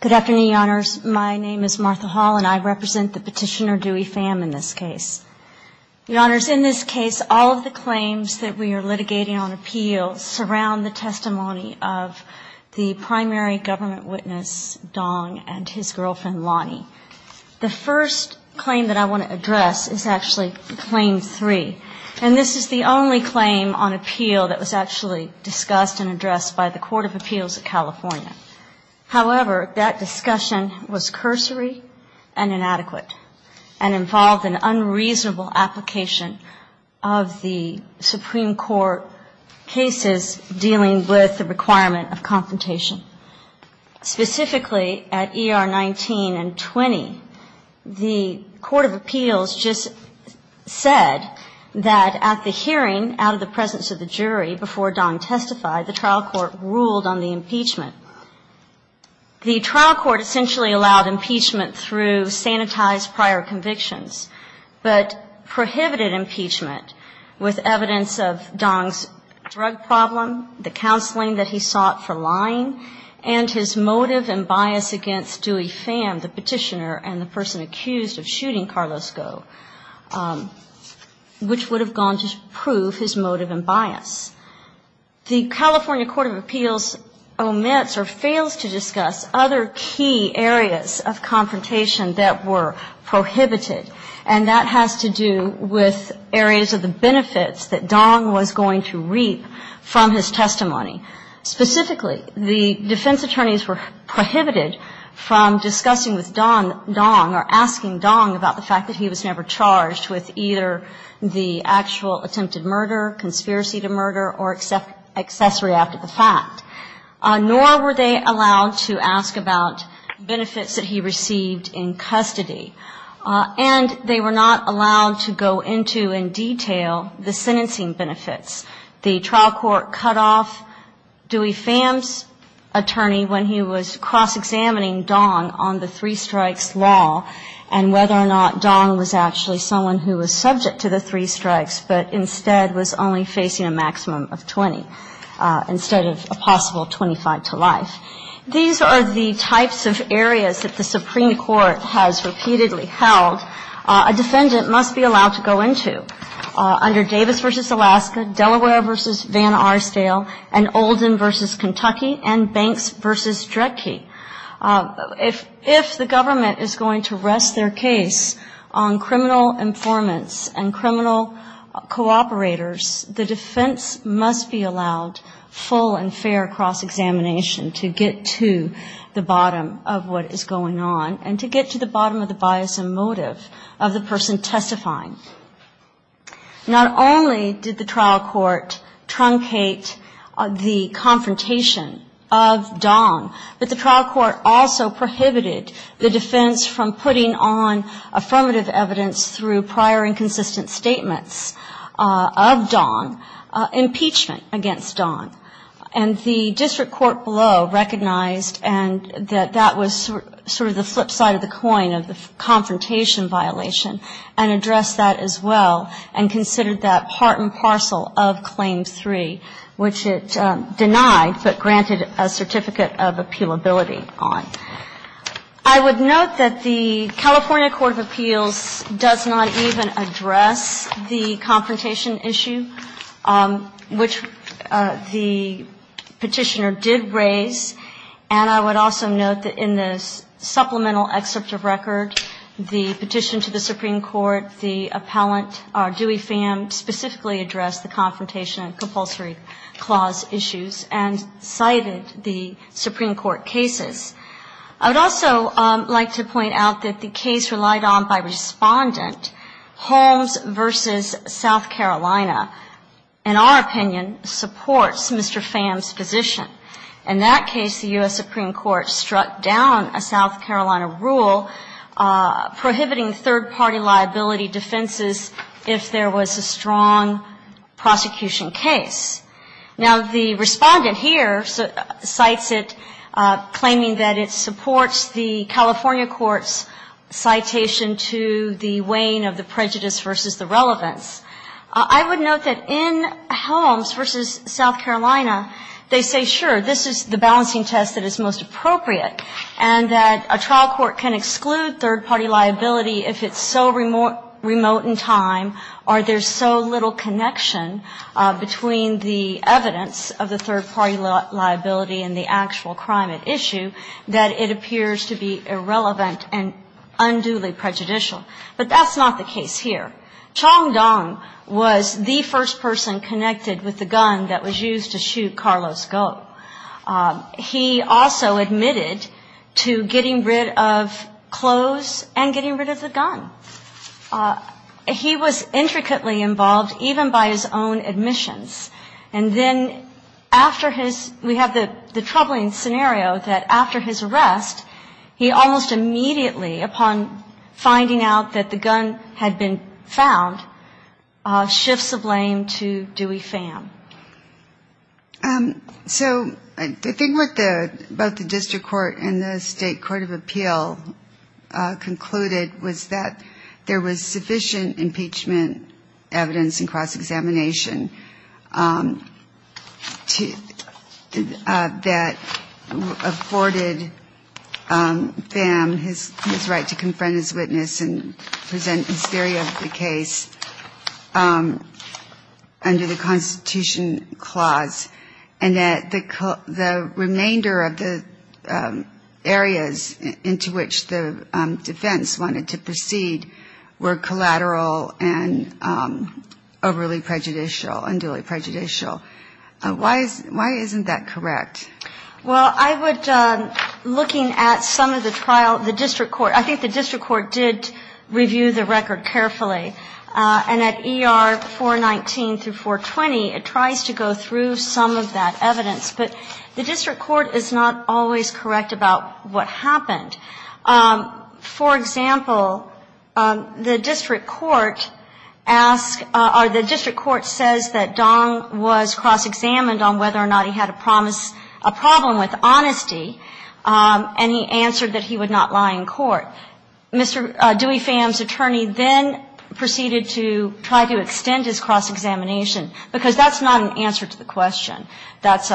Good afternoon, Your Honors. My name is Martha Hall, and I represent the petitioner Duy Pham in this case. Your Honors, in this case, all of the claims that we are litigating on appeal surround the testimony of the primary government witness, Dong, and his girlfriend, Lonnie. The first claim that I want to address is actually Claim 3. And this is the only claim on appeal that was actually discussed and addressed by the Court of Appeals of California. However, that discussion was cursory and inadequate and involved an unreasonable application of the Supreme Court cases dealing with the requirement of confrontation. Specifically, at ER 19 and 20, the Court of Appeals just said that at the hearing, out of the presence of the jury, before Dong testified, the trial court ruled on the impeachment. The trial court essentially allowed impeachment through sanitized prior convictions, but prohibited impeachment with evidence of Dong's drug problem, the counseling that he sought for lying, and his motive and bias against Duy Pham, the petitioner and the person accused of shooting Carlos Go, which would have gone to prove his motive and bias. The California Court of Appeals omits or fails to discuss other key areas of confrontation that were prohibited. And that has to do with areas of the benefits that Dong was going to reap from his testimony. Specifically, the defense attorneys were prohibited from discussing with Dong or asking Dong about the fact that he was never charged with either the actual attempted murder, conspiracy to murder, or accessory after the fact. Nor were they allowed to ask about benefits that he received in custody. And they were not allowed to go into in detail the sentencing benefits. The trial court cut off Duy Pham's attorney when he was cross-examining Dong on the three-strikes law and whether or not Dong was actually someone who was subject to the three-strikes, but instead was only facing a maximum of 20 instead of a possible 25 to life. These are the types of areas that the Supreme Court has repeatedly held a defendant must be allowed to go into under Davis v. Alaska, Delaware v. Van Arsdale, and Oldham v. Kentucky, and Banks v. Dredge. If the government is going to rest their case on criminal informants and criminal cooperators, the defense must be allowed full and fair cross-examination to get to the bottom of what is going on and to get to the bottom of the bias and motive of the person testifying. Not only did the trial court truncate the confrontation of Dong, but the trial court also prohibited the defense from putting on affirmative evidence through prior inconsistent statements of Dong, impeachment against Dong. And the district court below recognized that that was sort of the flip side of the coin of the confrontation violation and addressed that as well and considered that part and parcel of Claim 3, which it denied but granted a certificate of appealability on. I would note that the California Court of Appeals does not even address the confrontation issue, which the petitioner did raise. And I would also note that in this supplemental excerpt of record, the petition to the Supreme Court, the appellant, Dewey Pham, specifically addressed the confrontation and compulsory clause issues and cited the Supreme Court cases. I would also like to point out that the case relied on by Respondent, Holmes v. South Carolina, in our opinion, supports Mr. Pham's position. In that case, the U.S. Supreme Court struck down a South Carolina rule prohibiting third-party liability defenses if there was a strong prosecution case. Now, the Respondent here cites it, claiming that it supports the California Court's citation to the weighing of the prejudice versus the relevance. I would note that in Holmes v. South Carolina, they say, sure, this is the balancing test that is most appropriate, and that a trial court can exclude third-party liability if it's so remote in time or there's so little connection between the evidence of the third-party liability and the actual crime at issue that it appears to be irrelevant and unduly prejudicial. But that's not the case here. Chong Dong was the first person connected with the gun that was used to shoot Carlos Go. He also admitted to getting rid of clothes and getting rid of the gun. He was intricately involved even by his own admissions. And then after his we have the troubling scenario that after his arrest, he almost immediately, upon finding out that the gun had been found, shifts the blame to Dewey Pham. So the thing about the district court and the state court of appeal concluded was that there was sufficient impeachment evidence and cross-examination that afforded Pham his right to confront his witness and present his theory of the case under the Constitution clause, and that the remainder of the areas into which the defense wanted to proceed were collateral and overly prejudicial. Why isn't that correct? Well, I would, looking at some of the trial, the district court, I think the district court did review the record carefully. And at ER 419 through 420, it tries to go through some of that evidence. But the district court is not always correct about what happened. For example, the district court asks, or the district court says that Dong was cross-examined on whether or not he had a problem with honesty, and he answered that he would not lie in court. Mr. Dewey Pham's attorney then proceeded to try to extend his cross-examination, because that's not an answer to the question. That's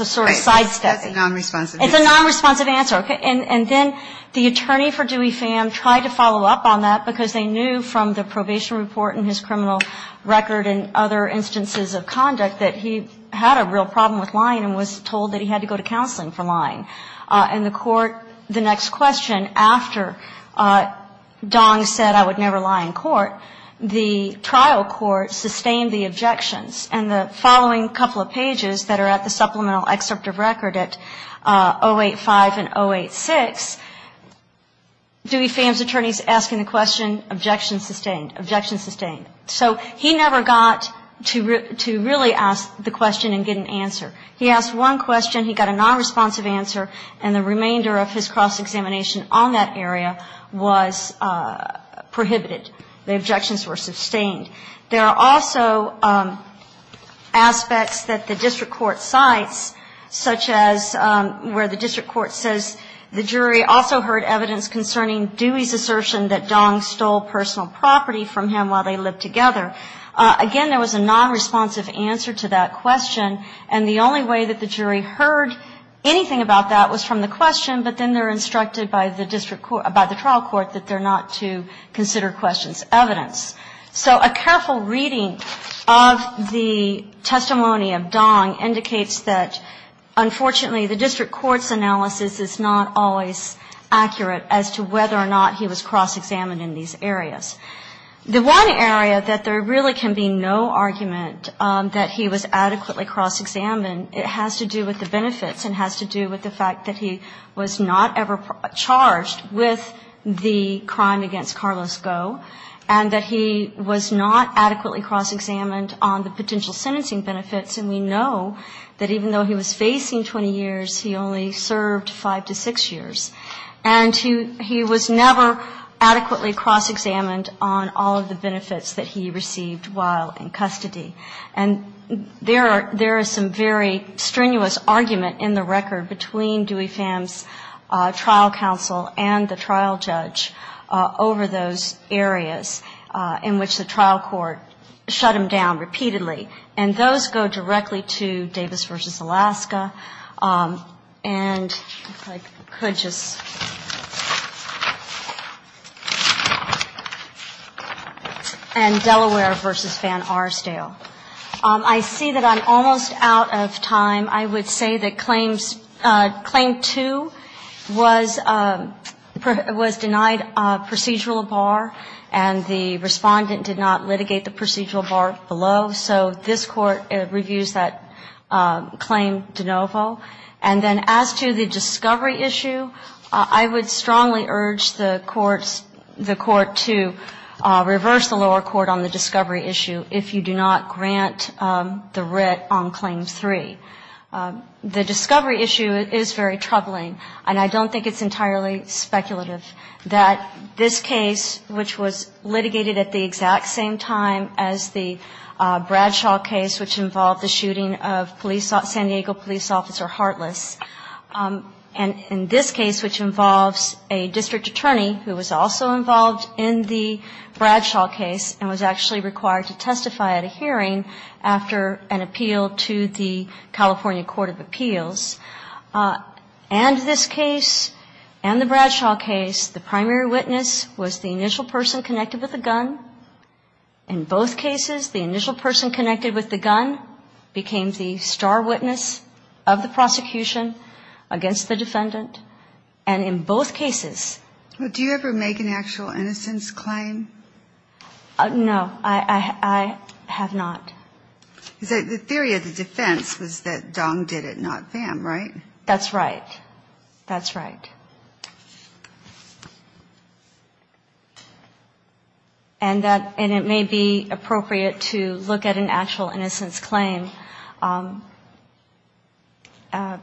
a sort of sidestep. It's a nonresponsive answer. And then the attorney for Dewey Pham tried to follow up on that, because they knew from the probation report and his criminal record and other instances of conduct that he had a real problem with lying and was told that he would not lie in court, and the court, the next question, after Dong said I would never lie in court, the trial court sustained the objections. And the following couple of pages that are at the supplemental excerpt of record at 085 and 086, Dewey Pham's attorney is asking the question, objection sustained, objection sustained. So he never got to really ask the question and get an answer. He asked one question. He got a nonresponsive answer, and the remainder of his cross-examination on that area was prohibited. The objections were sustained. There are also aspects that the district court cites, such as where the district court says the jury also heard evidence concerning Dewey's assertion that Dong stole personal property from him while they lived together. Again, there was a nonresponsive answer to that question, and the only way that the jury heard anything about that was from the question, but then they're instructed by the trial court that they're not to consider questions. Evidence. So a careful reading of the testimony of Dong indicates that, unfortunately, the district court's analysis is not always accurate as to whether or not he was cross-examined in these areas. The one area that there really can be no argument that he was adequately cross-examined, it has to do with the benefits and has to do with the fact that he was not ever charged with the crime against Carlos Goh and that he was not adequately cross-examined on the potential sentencing benefits. And we know that even though he was facing 20 years, he only served five to six years. And he was never adequately cross-examined on all of the benefits that he received while in custody. And there is some very strenuous argument in the record between Dewey Pham's trial counsel and the trial judge over those areas in which the trial court shut him down repeatedly. And those go directly to Davis v. Alaska and Delaware v. Phan-Arsdale. I see that I'm almost out of time. I would say that Claim 2 was denied procedural bar and the Respondent did not litigate the procedural bar below. So this Court reviews that Claim De Novo. And then as to the discovery issue, I would strongly urge the courts to reverse the lower court on the discovery issue if you do not grant the writ on Claim 3. The discovery issue is very troubling, and I don't think it's entirely speculative that this case, which was litigated at the exact same time as the Bradshaw case, which involved the shooting of San Diego police officer Hartless, and in this case, which involves a district attorney who was also involved in the Bradshaw case and was actually required to testify at a hearing after an appeal to the California Court of Appeals. And this case and the Bradshaw case, the primary witness was the initial person connected with the gun. In both cases, the initial person connected with the gun became the star witness of the prosecution against the defendant. And in both cases. Do you ever make an actual innocence claim? No, I have not. The theory of the defense was that Dong did it, not Pham, right? That's right. That's right. And it may be appropriate to look at an actual innocence claim.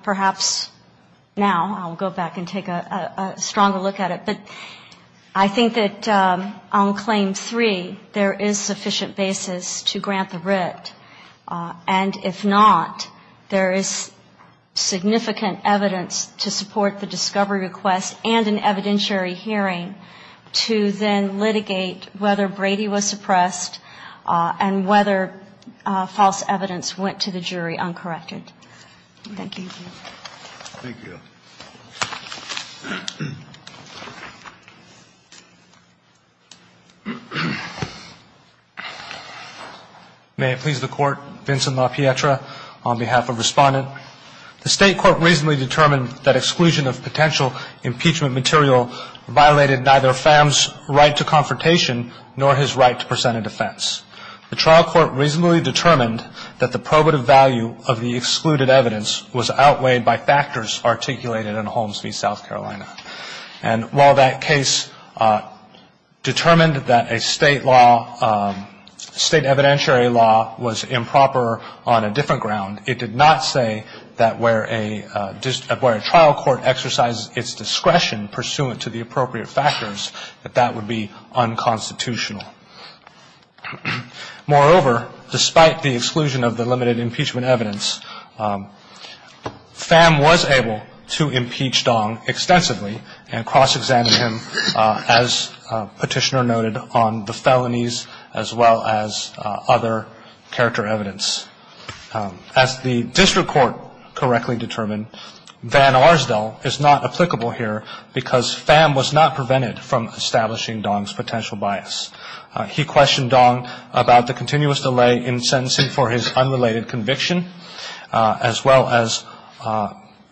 Perhaps now I'll go back and take a stronger look at it, but I think that on Claim 3, there is sufficient basis to grant the writ. And if not, there is significant evidence to support the discovery request and an evidentiary hearing to then litigate whether Brady was suppressed and whether false evidence went to the jury uncorrected. Thank you. May it please the Court, Vincent LaPietra on behalf of Respondent. The State Court reasonably determined that exclusion of potential impeachment material violated neither Pham's right to confrontation nor his right to present a defense. The trial court reasonably determined that the probative value of the excluded evidence was outweighed by factors articulated in Holmes v. South Carolina. And while that case determined that a state law, state evidentiary law was improper on a different ground, it did not say that where a trial court exercised its discretion pursuant to the appropriate factors, that that would be unconstitutional. Moreover, despite the exclusion of the limited impeachment evidence, Pham was able to impeach Dong extensively. And cross-examined him, as Petitioner noted, on the felonies as well as other character evidence. As the district court correctly determined, Van Arsdell is not applicable here because Pham was not prevented from establishing Dong's potential bias. He questioned Dong about the continuous delay in sentencing for his unrelated conviction, as well as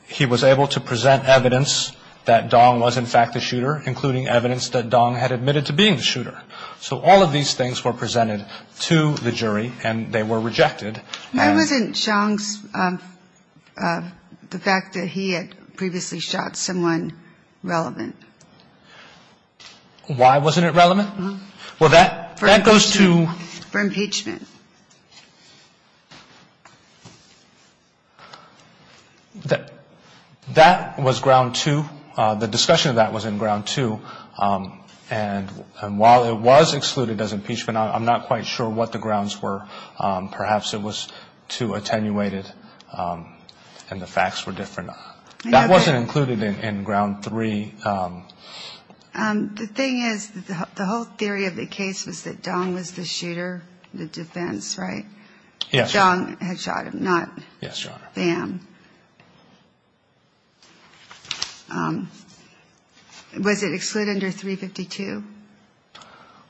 he was able to present evidence that Dong was, in fact, the shooter, including evidence that Dong had admitted to being the shooter. So all of these things were presented to the jury, and they were rejected. And I wasn't shocked of the fact that he had previously shot someone relevant. Why wasn't it relevant? Well, that goes to... For impeachment. That was ground two. The discussion of that was in ground two. And while it was excluded as impeachment, I'm not quite sure what the grounds were. Perhaps it was too attenuated and the facts were different. That wasn't included in ground three. The thing is, the whole theory of the case was that Dong was the shooter, the defense, right? Yes, Your Honor. Dong had shot him, not Pham. Was it excluded under 352?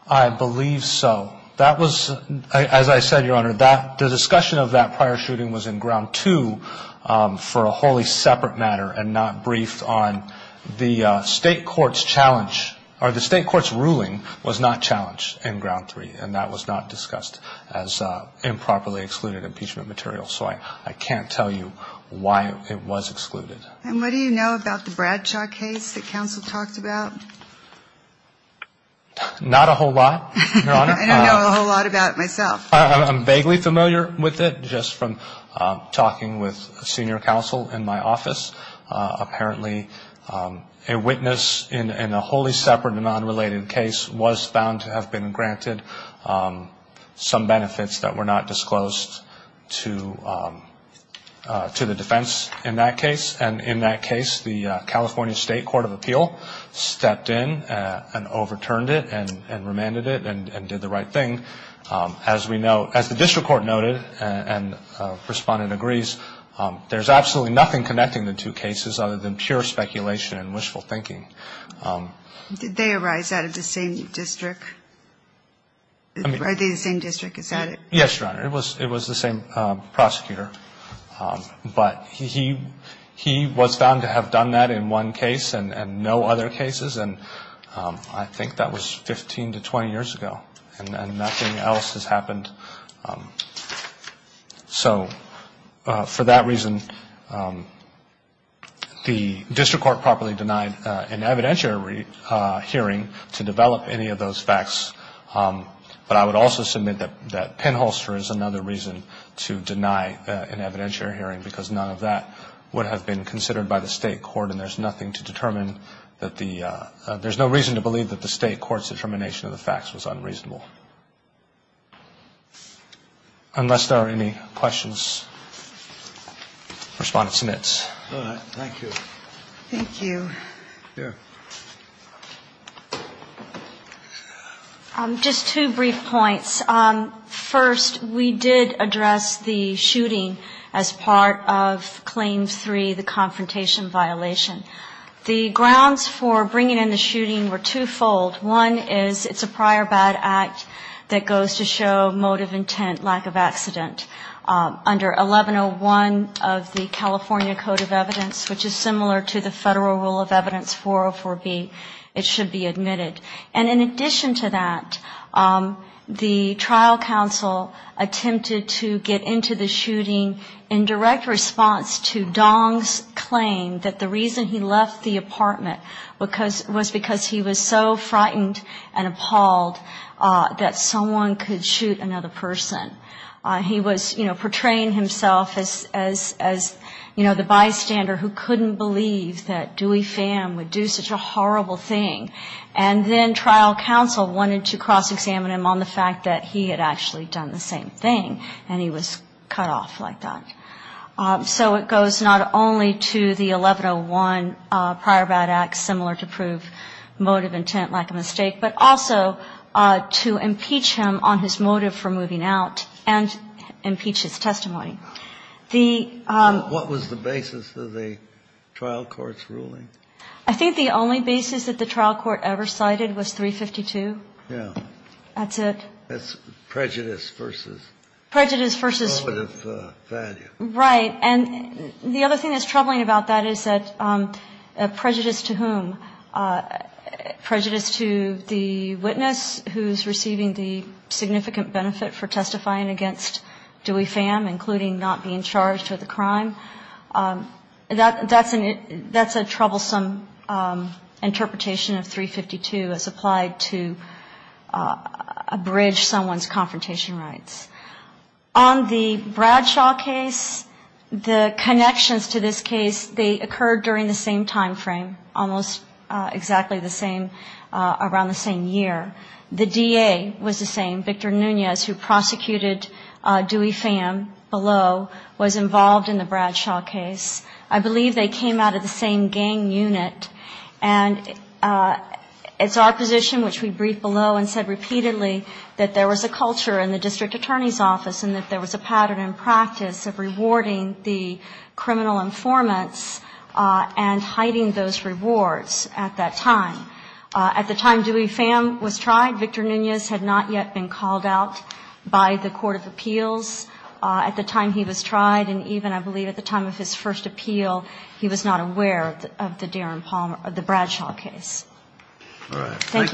I believe so. That was, as I said, Your Honor, the discussion of that prior shooting was in ground two for a wholly separate matter, and not briefed on the state court's challenge, or the state court's ruling was not challenged in ground three, and that was not discussed as improperly excluded impeachment material. So I can't tell you why it was excluded. And what do you know about the Bradshaw case that counsel talked about? Not a whole lot, Your Honor. I don't know a whole lot about it myself. I'm vaguely familiar with it, just from talking with a senior counsel in my office. Apparently, a witness in a wholly separate and unrelated case was found to have been granted some benefits that were not disclosed to the defense in that case, and in that case, the California State Court of Appeal stepped in and overturned it and remanded it and did the right thing. As we know, as the district court noted, and Respondent agrees, there's absolutely nothing connecting the two cases other than pure speculation and wishful thinking. Did they arise out of the same district? Are they the same district? Is that it? Yes, Your Honor. It was the same prosecutor, but he was found to have done that in one case and no other cases, and I think that was 15 to 20 years ago, and nothing else has happened. So for that reason, the district court properly denied an evidentiary hearing to develop any of those facts, but I would also submit that pinholster is another reason to deny an evidentiary hearing, because none of that would have been considered by the state court, and there's nothing to determine that the ‑‑ there's no reason to believe that the state court's determination of the facts was unreasonable. Unless there are any questions, Respondent submits. Thank you. Thank you. Just two brief points. First, we did address the shooting as part of Claim 3, the confrontation violation. The grounds for bringing in the shooting were twofold. One is it's a prior bad act that goes to show motive, intent, lack of accident. Under 1101 of the California Code of Evidence, which is similar to the Federal Rule of Evidence 404B, it should be admitted. And in addition to that, the trial counsel attempted to get into the shooting in direct response to Dong's claim that the reason he left the apartment was because he was so frightened and appalled that someone could shoot another person. He was, you know, portraying himself as, you know, the bystander who couldn't believe that Dewey Pham would do such a horrible thing, and then trial counsel wanted to cross-examine him on the fact that he had actually done the same thing, and he was cut off like that. So it goes not only to the 1101 prior bad act, similar to prove motive, intent, lack of mistake, but also to impeach him on his motive for moving out and impeach his testimony. What was the basis of the trial court's ruling? I think the only basis that the trial court ever cited was 352. Yeah. That's it. That's prejudice versus... Prejudice versus... ...prohibitive value. Right. And the other thing that's troubling about that is that prejudice to whom? Prejudice to the witness who's receiving the significant benefit for testifying against Dewey Pham, including not being charged with a crime? That's a troublesome interpretation of 352 as applied to abridge someone's confrontation rights. On the Bradshaw case, the connections to this case, they occurred during the same timeframe, almost exactly the same, around the same year. The DA was the same, Victor Nunez, who prosecuted Dewey Pham below, was involved in the Bradshaw case. I believe they came out of the same gang unit. And it's our position, which we briefed below and said repeatedly, that there was a culture in the district attorney's office and that there was a pattern and practice of rewarding the criminal informants and hiding those rewards at that time. At the time Dewey Pham was tried, Victor Nunez had not yet been called out by the court of appeals. At the time he was tried, and even I believe at the time of his first appeal, he was not aware of the Darren Palmer, of the Bradshaw case. Thank you.